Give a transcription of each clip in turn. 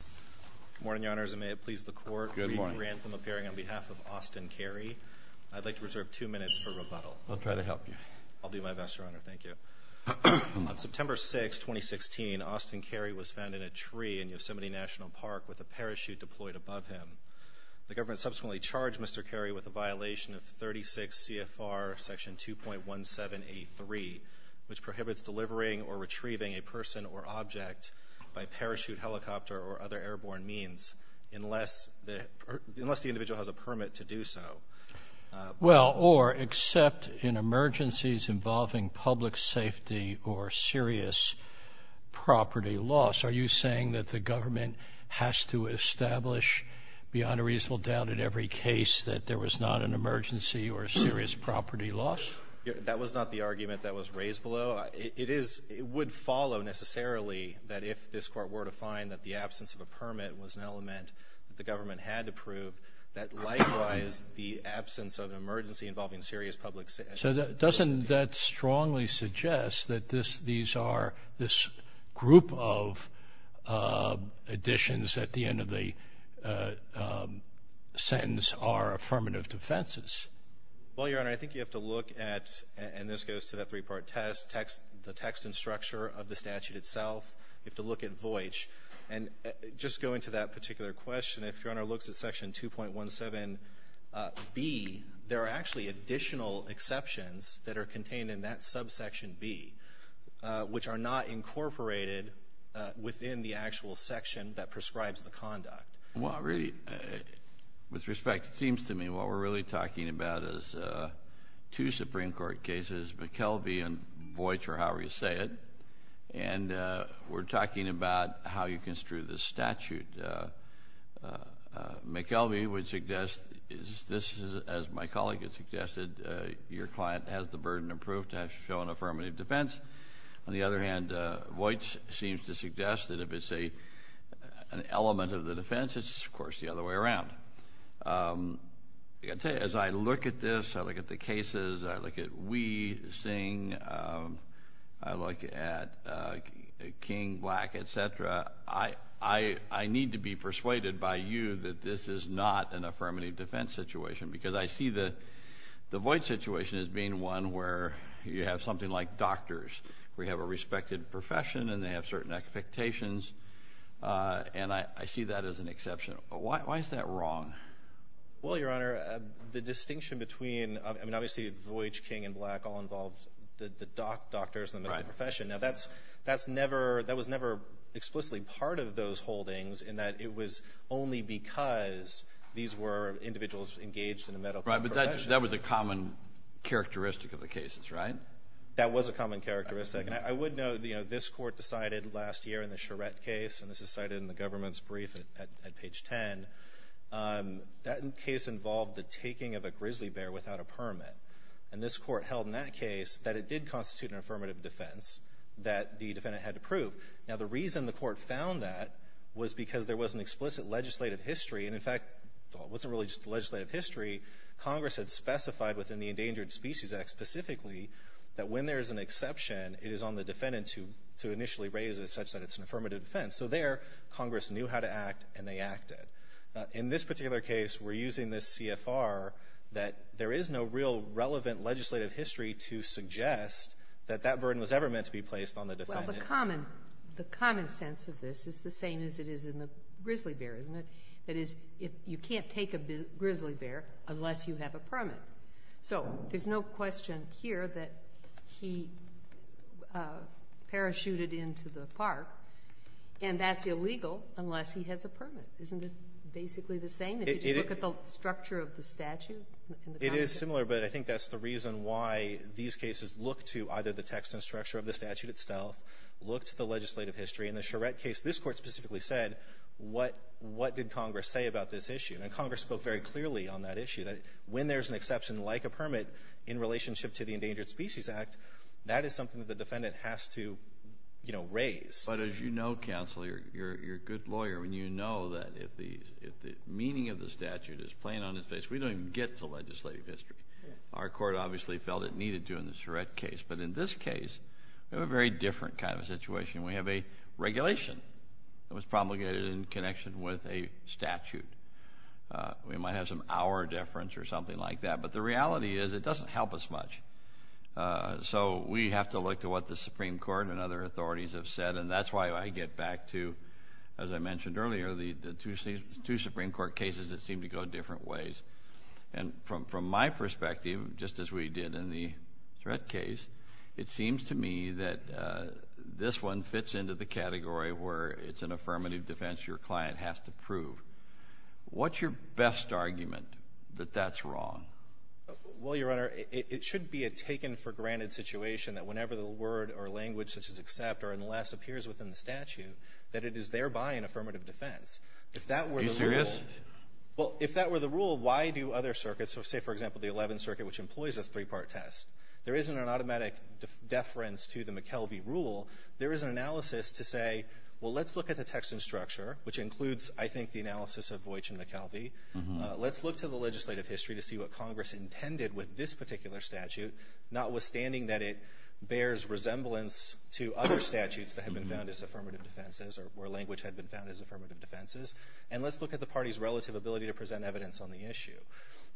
Good morning, Your Honors, and may it please the Court to re-grant them a pairing on behalf of Austin Carey. I'd like to reserve two minutes for rebuttal. I'll try to help you. I'll do my best, Your Honor. Thank you. On September 6, 2016, Austin Carey was found in a tree in Yosemite National Park with a parachute deployed above him. The government subsequently charged Mr. Carey with a violation of 36 CFR section 2.1783, which prohibits delivering or retrieving a person or object by parachute, helicopter, or other airborne means unless the individual has a permit to do so. Well, or except in emergencies involving public safety or serious property loss. Are you saying that the government has to establish beyond a reasonable doubt in every case that there was not an emergency or serious property loss? That was not the argument that was raised below. It would follow necessarily that if this Court were to find that the absence of a permit was an element that the government had to prove, that likewise the absence of an emergency involving serious public safety. So doesn't that strongly suggest that these are this group of additions at the end of the sentence are affirmative defenses? Well, Your Honor, I think you have to look at, and this goes to that three-part test, the text and structure of the statute itself. You have to look at Voitch. And just going to that particular question, if Your Honor looks at section 2.17b, there are actually additional exceptions that are contained in that subsection b, which are not incorporated within the actual section that prescribes the conduct. Well, really, with respect, it seems to me what we're really talking about is two Supreme Court cases, McKelvey and Voitch, or however you say it. And we're talking about how you construe this statute. McKelvey would suggest, as my colleague has suggested, your client has the burden of proof to show an affirmative defense. On the other hand, Voitch seems to suggest that if it's an element of the defense, it's of course the other way around. I tell you, as I look at this, I look at the cases, I look at Wee, Singh, I look at King, Black, et cetera, I need to be persuaded by you that this is not an affirmative defense situation. Because I see the Voitch situation as being one where you have something like doctors, where you have a respected profession and they have certain expectations. And I see that as an exception. Why is that wrong? Well, Your Honor, the distinction between, I mean, obviously, Voitch, King, and Black all involved the doctors in the medical profession. Now, that's never – that was never explicitly part of those holdings in that it was only because these were individuals engaged in a medical profession. Kennedy. Right. But that was a common characteristic of the cases, right? That was a common characteristic. And I would note, you know, this Court decided last year in the Charette case, and this is cited in the government's brief at page 10, that case involved the taking of a grizzly bear without a permit. And this Court held in that case that it did constitute an affirmative defense that the defendant had to prove. Now, the reason the Court found that was because there was an explicit legislative history. And, in fact, it wasn't really just legislative history. Congress had specified within the Endangered Species Act specifically that when there is an exception, it is on the defendant to initially raise it such that it's an affirmative defense. So there, Congress knew how to act, and they acted. In this particular case, we're using this CFR that there is no real relevant legislative history to suggest that that burden was ever meant to be placed on the defendant. Well, the common sense of this is the same as it is in the grizzly bear, isn't it? That is, you can't take a grizzly bear unless you have a permit. So there's no question here that he parachuted into the park, and that's illegal unless he has a permit. Isn't it basically the same? If you look at the structure of the statute in the Constitution? It's very similar, but I think that's the reason why these cases look to either the text and structure of the statute itself, look to the legislative history. In the Charette case, this Court specifically said, what did Congress say about this issue? And Congress spoke very clearly on that issue, that when there's an exception like a permit in relationship to the Endangered Species Act, that is something that the defendant has to, you know, raise. But as you know, counsel, you're a good lawyer, and you know that if the meaning of the statute is plain on its face, we don't even get to legislative history. Our Court obviously felt it needed to in the Charette case. But in this case, we have a very different kind of situation. We have a regulation that was promulgated in connection with a statute. We might have some hour deference or something like that, but the reality is it doesn't help us much. So we have to look to what the Supreme Court and other authorities have said, and that's why I get back to, as I mentioned earlier, the two Supreme Court cases that seem to go different ways. And from my perspective, just as we did in the Charette case, it seems to me that this one fits into the category where it's an affirmative defense your client has to prove. What's your best argument that that's wrong? Well, Your Honor, it should be a taken-for-granted situation that whenever the word or language such as accept or unless appears within the statute, that it is thereby an affirmative defense. If that were the rule — Are you serious? Well, if that were the rule, why do other circuits, so say, for example, the Eleventh Circuit, which employs this three-part test, there isn't an automatic deference to the McKelvey rule. There is an analysis to say, well, let's look at the text and structure, which includes, I think, the analysis of Voitch and McKelvey. Let's look to the legislative history to see what Congress intended with this particular statute, notwithstanding that it bears resemblance to other statutes that have been found as affirmative defenses or where language had been found as affirmative defenses. And let's look at the party's relative ability to present evidence on the issue.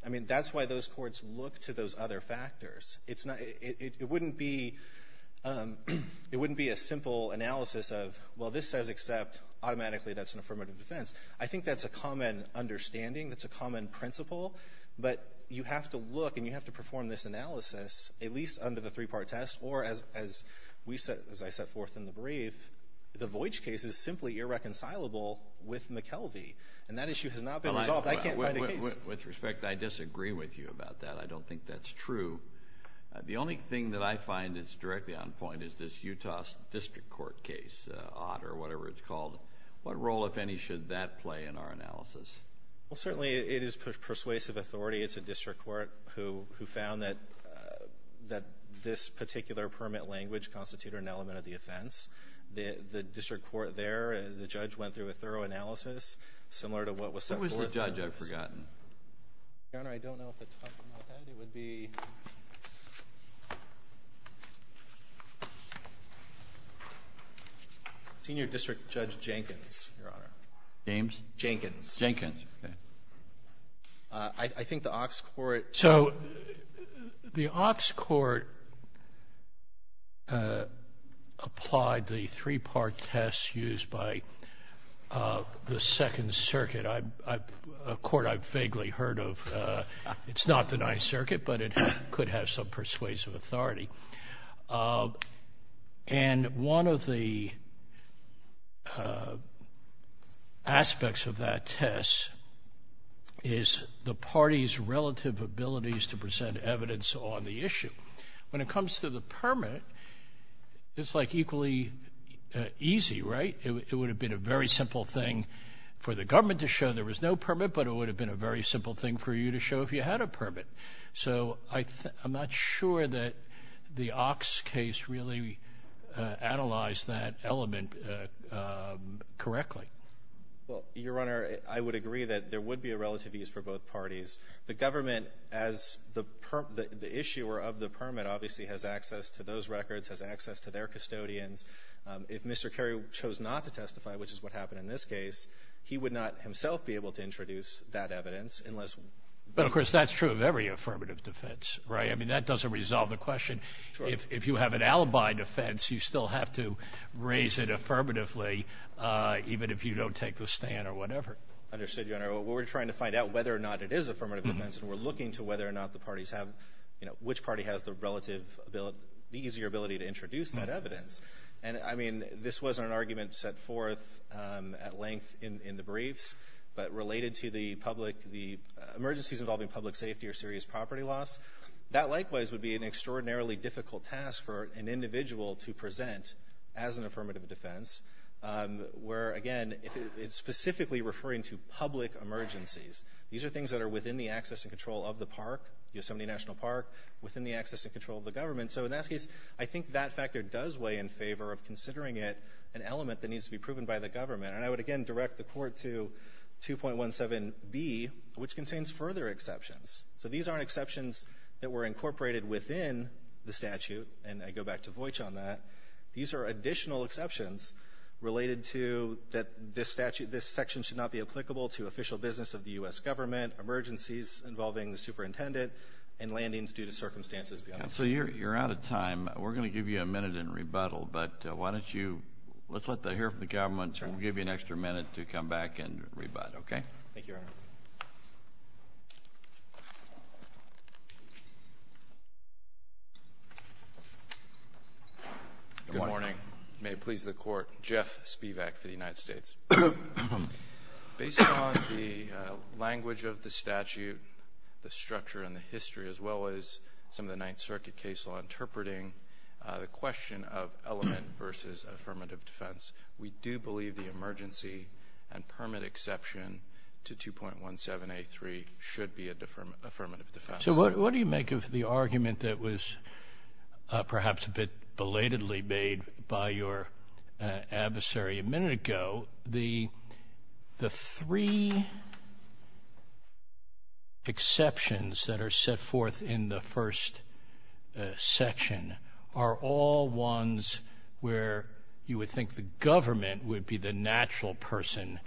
I mean, that's why those courts look to those other factors. It's not — it wouldn't be — it wouldn't be a simple analysis of, well, this says accept. Automatically, that's an affirmative defense. I think that's a common understanding. That's a common principle. But you have to look and you have to perform this analysis, at least under the three-part test, or as we set — as I set forth in the brief, the Voitch case is simply irreconcilable with McKelvey. And that issue has not been resolved. I can't find a case. With respect, I disagree with you about that. I don't think that's true. The only thing that I find that's directly on point is this Utah District Court case, OTT or whatever it's called. What role, if any, should that play in our analysis? Well, certainly, it is persuasive authority. It's a district court who — who found that — that this particular permit language constituted an element of the offense. The — the district court there, the judge went through a thorough analysis similar to what was set forth. What was the judge? I've forgotten. Your Honor, I don't know if it talks about that. It would be Senior District Judge Jenkins, Your Honor. James? Jenkins. Jenkins. Okay. I think the Ox Court — So the Ox Court applied the three-part test used by the Second Circuit, a court I've vaguely heard of. It's not the Ninth Circuit, but it could have some persuasive authority. And one of the aspects of that test is the party's relative abilities to present evidence on the issue. When it comes to the permit, it's like equally easy, right? It would have been a very simple thing for the government to show there was no permit, but it would have been a very simple thing for you to show if you had a permit. So I'm not sure that the Ox case really analyzed that element correctly. Well, Your Honor, I would agree that there would be a relative ease for both parties. The government, as the issuer of the permit, obviously has access to those records, has access to their custodians. If Mr. Kerry chose not to testify, which is what happened in this case, he would not himself be able to introduce that evidence unless — But, of course, that's true of every affirmative defense, right? I mean, that doesn't resolve the question. If you have an alibi defense, you still have to raise it affirmatively even if you don't take the stand or whatever. Understood, Your Honor. We're trying to find out whether or not it is affirmative defense, and we're looking to whether or not the parties have — you know, which party has the relative ability — the easier ability to introduce that evidence. And, I mean, this wasn't an argument set forth at length in the briefs, but related to the public — the emergencies involving public safety or serious property loss. That, likewise, would be an extraordinarily difficult task for an individual to present as an affirmative defense, where, again, it's specifically referring to public emergencies. These are things that are within the access and control of the park, Yosemite National Park, within the access and control of the government. So, in that case, I think that factor does weigh in favor of considering it an element that needs to be proven by the government. And I would, again, direct the court to 2.17b, which contains further exceptions. So, these aren't exceptions that were incorporated within the statute, and I go back to Voitch on that. These are additional exceptions related to that this statute — this section should not be applicable to official business of the U.S. government, emergencies involving the superintendent, and landings due to circumstances beyond the statute. So, you're out of time. We're going to give you a minute in rebuttal, but why don't you — let's let us hear from the government. We'll give you an extra minute to come back and rebut. Okay? Thank you, Your Honor. Good morning. May it please the Court. Jeff Spivak for the United States. Based on the language of the statute, the structure and the history, as well as some of the Ninth Circuit case law interpreting, the question of element versus affirmative defense, we do believe the emergency and permit exception to 2.17a3 should be an affirmative defense. So, what do you make of the argument that was perhaps a bit belatedly made by your adversary a minute ago? The three exceptions that are set forth in the first section are all ones where you would think the government would be the natural person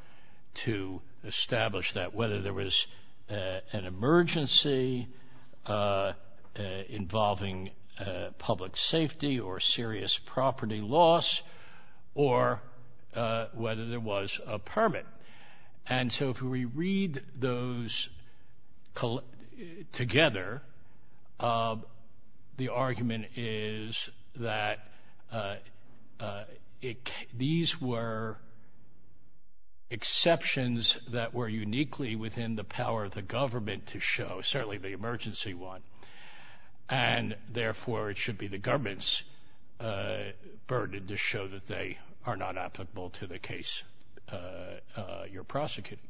to establish that, whether there was an emergency involving public safety or serious property loss, or whether there was a permit. And so, if we read those together, the argument is that these were exceptions that were uniquely within the power of the government to show, certainly the emergency one. And therefore, it should be the government's burden to show that they are not applicable to the case you're prosecuting.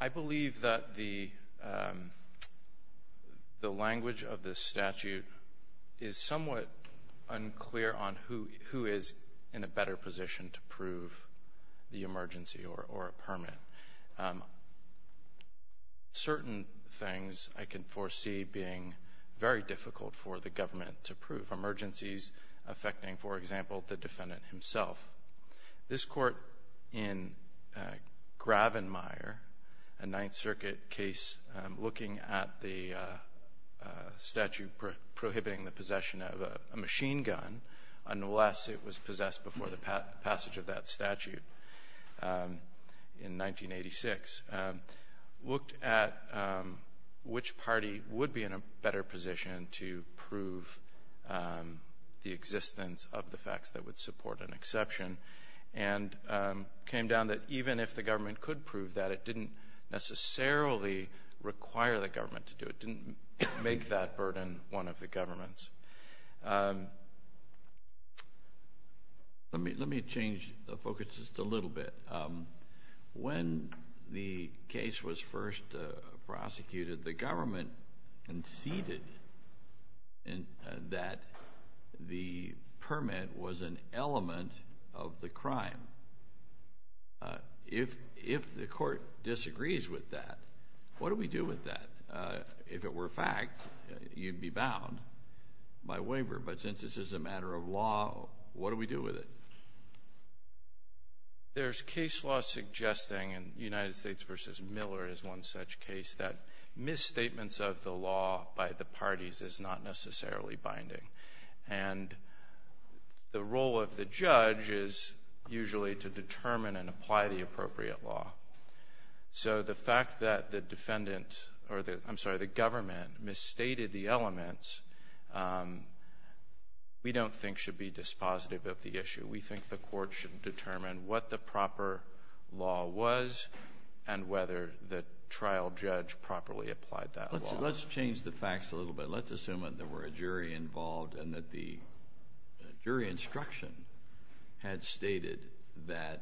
I believe that the language of this statute is somewhat unclear on who is in a better position to prove the emergency or a permit. Certain things I can foresee being very difficult for the government to prove. For example, for emergencies affecting, for example, the defendant himself. This court in Gravenmire, a Ninth Circuit case looking at the statute prohibiting the possession of a machine gun, unless it was possessed before the passage of that statute in 1986, looked at which party would be in a better position to prove the existence of the facts that would support an exception and came down that even if the government could prove that, it didn't necessarily require the government to do it. It didn't make that burden one of the government's. Let me change the focus just a little bit. When the case was first prosecuted, the government conceded that the permit was an element of the crime. If the court disagrees with that, what do we do with that? If it were a fact, you'd be bound by waiver. But since this is a matter of law, what do we do with it? There's case law suggesting, and United States v. Miller is one such case, that misstatements of the law by the parties is not necessarily binding. And the role of the judge is usually to determine and apply the appropriate law. So the fact that the government misstated the elements, we don't think should be dispositive of the issue. We think the court should determine what the proper law was and whether the trial judge properly applied that law. Let's change the facts a little bit. Let's assume that there were a jury involved and that the jury instruction had stated that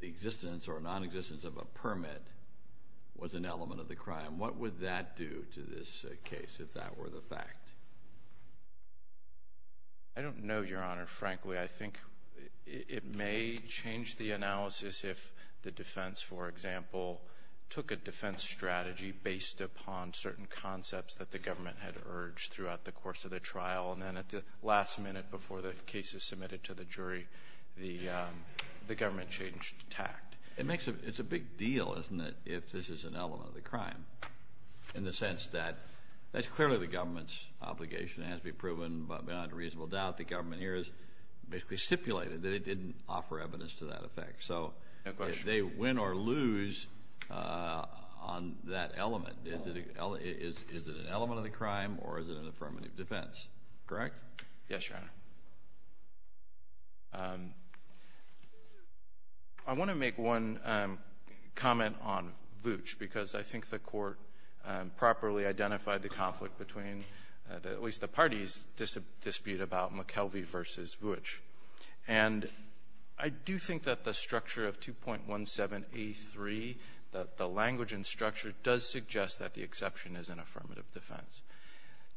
the existence or nonexistence of a permit was an element of the crime. What would that do to this case if that were the fact? I don't know, Your Honor. Frankly, I think it may change the analysis if the defense, for example, took a defense strategy based upon certain concepts that the government had urged throughout the course of the trial. And then at the last minute before the case is submitted to the jury, the government changed tact. It's a big deal, isn't it, if this is an element of the crime, in the sense that that's clearly the government's obligation. It has to be proven beyond a reasonable doubt. The government here has basically stipulated that it didn't offer evidence to that effect. So if they win or lose on that element, is it an element of the crime or is it an affirmative defense? Correct? Yes, Your Honor. Thank you. I want to make one comment on Vooch because I think the Court properly identified the conflict between, at least the parties' dispute about McKelvey v. Vooch. And I do think that the structure of 2.17a.3, the language and structure, does suggest that the exception is an affirmative defense.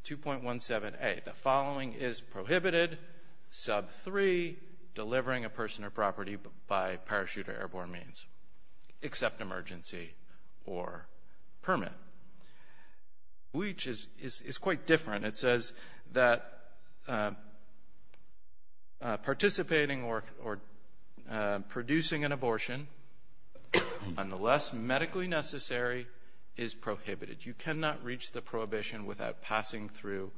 2.17a, the following is prohibited. Sub 3, delivering a person or property by parachute or airborne means, except emergency or permit. Vooch is quite different. It says that participating or producing an abortion, unless medically necessary, is prohibited. You cannot reach the prohibition without passing through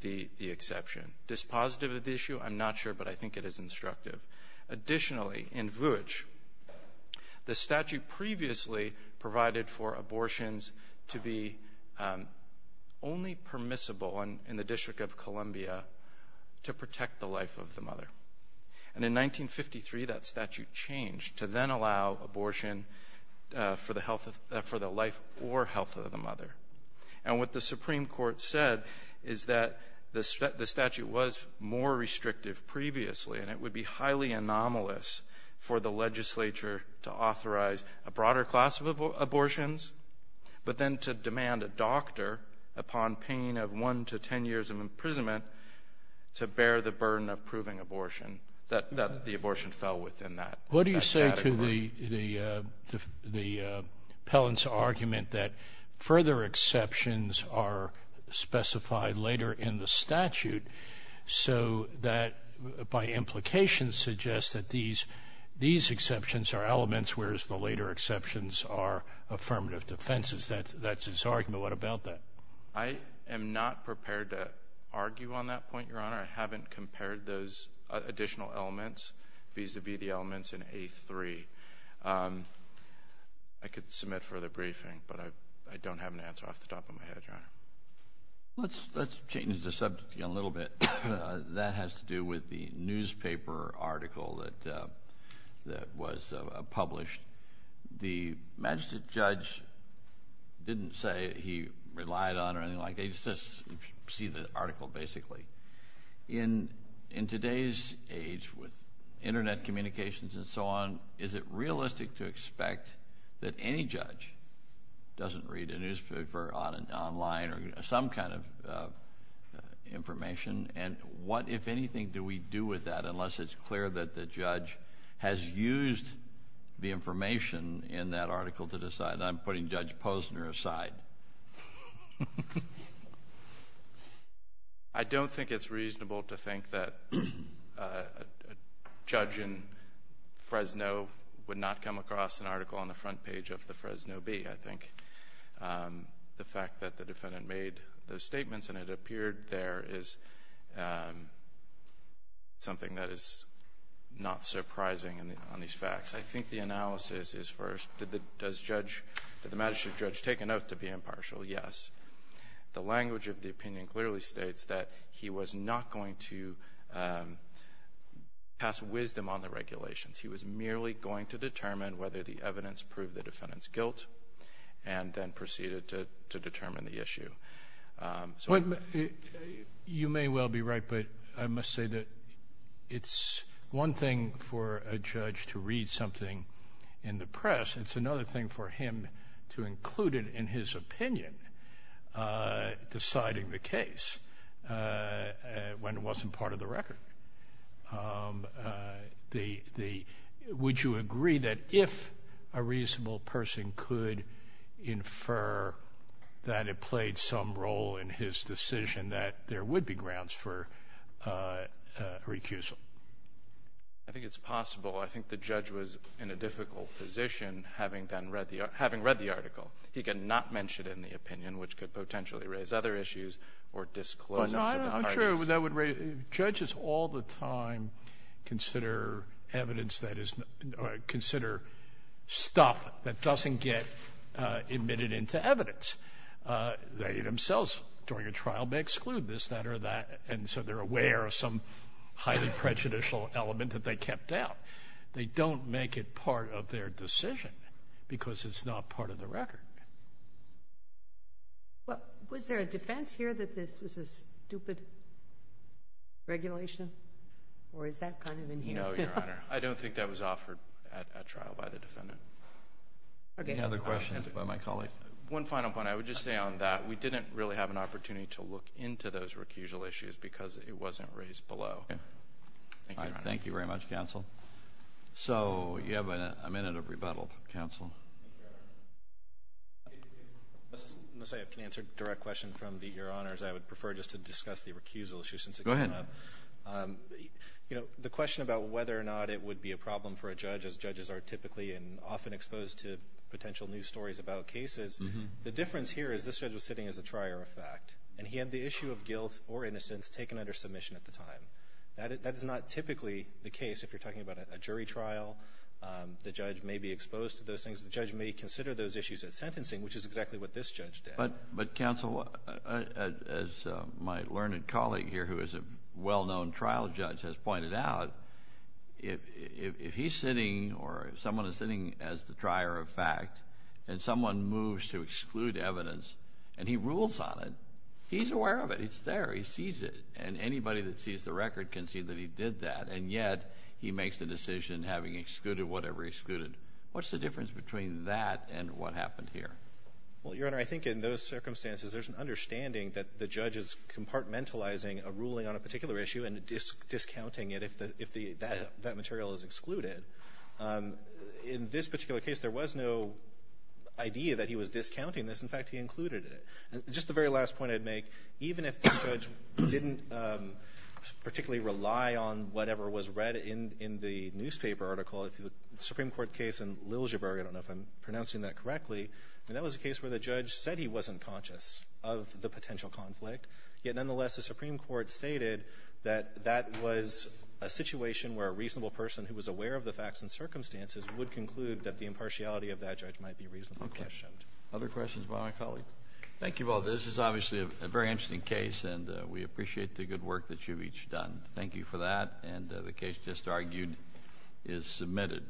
the exception. Dispositive of the issue? I'm not sure, but I think it is instructive. Additionally, in Vooch, the statute previously provided for abortions to be only permissible in the District of Columbia to protect the life of the mother. And in 1953, that statute changed to then allow abortion for the life or health of the mother. And what the Supreme Court said is that the statute was more restrictive previously, and it would be highly anomalous for the legislature to authorize a broader class of abortions, but then to demand a doctor, upon pain of 1 to 10 years of imprisonment, to bear the burden of proving abortion, that the abortion fell within that category. What do you say to the appellant's argument that further exceptions are specified later in the statute so that by implication suggests that these exceptions are elements, whereas the later exceptions are affirmative defenses? That's his argument. What about that? I am not prepared to argue on that point, Your Honor. I haven't compared those additional elements vis-à-vis the elements in A3. I could submit further briefing, but I don't have an answer off the top of my head, Your Honor. Let's change the subject a little bit. That has to do with the newspaper article that was published. The magistrate judge didn't say he relied on it or anything like that. You just see the article, basically. In today's age with Internet communications and so on, is it realistic to expect that any judge doesn't read a newspaper online or some kind of information? And what, if anything, do we do with that unless it's clear that the judge has used the information in that article to decide? I'm putting Judge Posner aside. I don't think it's reasonable to think that a judge in Fresno would not come across an article on the front page of the Fresno Bee. I think the fact that the defendant made those statements and it appeared there is something that is not surprising on these facts. I think the analysis is first, did the magistrate judge take an oath to be impartial? Yes. The language of the opinion clearly states that he was not going to pass wisdom on the regulations. He was merely going to determine whether the evidence proved the defendant's guilt and then proceeded to determine the issue. You may well be right, but I must say that it's one thing for a judge to read something in the press. It's another thing for him to include it in his opinion, deciding the case when it wasn't part of the record. Would you agree that if a reasonable person could infer that it played some role in his decision that there would be grounds for recusal? I think it's possible. I think the judge was in a difficult position having read the article. He could not mention it in the opinion, which could potentially raise other issues or disclose it to the parties. Judges all the time consider evidence that is considered stuff that doesn't get admitted into evidence. They themselves during a trial may exclude this, that, or that, and so they're aware of some highly prejudicial element that they kept out. They don't make it part of their decision because it's not part of the record. Was there a defense here that this was a stupid regulation, or is that kind of inherent? No, Your Honor. I don't think that was offered at trial by the defendant. Any other questions by my colleague? One final point. I would just say on that we didn't really have an opportunity to look into those recusal issues because it wasn't raised below. Thank you, Your Honor. Thank you very much, counsel. So you have a minute of rebuttal, counsel. Unless I can answer a direct question from Your Honors, I would prefer just to discuss the recusal issue since it came up. Go ahead. You know, the question about whether or not it would be a problem for a judge, as judges are typically and often exposed to potential news stories about cases, the difference here is this judge was sitting as a trier of fact, and he had the issue of guilt or innocence taken under submission at the time. That is not typically the case. If you're talking about a jury trial, the judge may be exposed to those things. The judge may consider those issues at sentencing, which is exactly what this judge did. But, counsel, as my learned colleague here who is a well-known trial judge has pointed out, if he's sitting or someone is sitting as the trier of fact and someone moves to exclude evidence and he rules on it, he's aware of it. It's there. He sees it. And anybody that sees the record can see that he did that, and yet he makes the decision having excluded whatever he excluded. What's the difference between that and what happened here? Well, Your Honor, I think in those circumstances, there's an understanding that the judge is compartmentalizing a ruling on a particular issue and discounting it if that material is excluded. In this particular case, there was no idea that he was discounting this. In fact, he included it. Just the very last point I'd make, even if the judge didn't particularly rely on whatever was read in the newspaper article, the Supreme Court case in Liljeburg, I don't know if I'm pronouncing that correctly, that was a case where the judge said he wasn't conscious of the potential conflict. Yet, nonetheless, the Supreme Court stated that that was a situation where a reasonable person who was aware of the facts and circumstances would conclude that the impartiality of that judge might be reasonably questioned. Okay. Other questions by my colleague? Thank you, both. This is obviously a very interesting case, and we appreciate the good work that you've each done. Thank you for that, and the case just argued is submitted.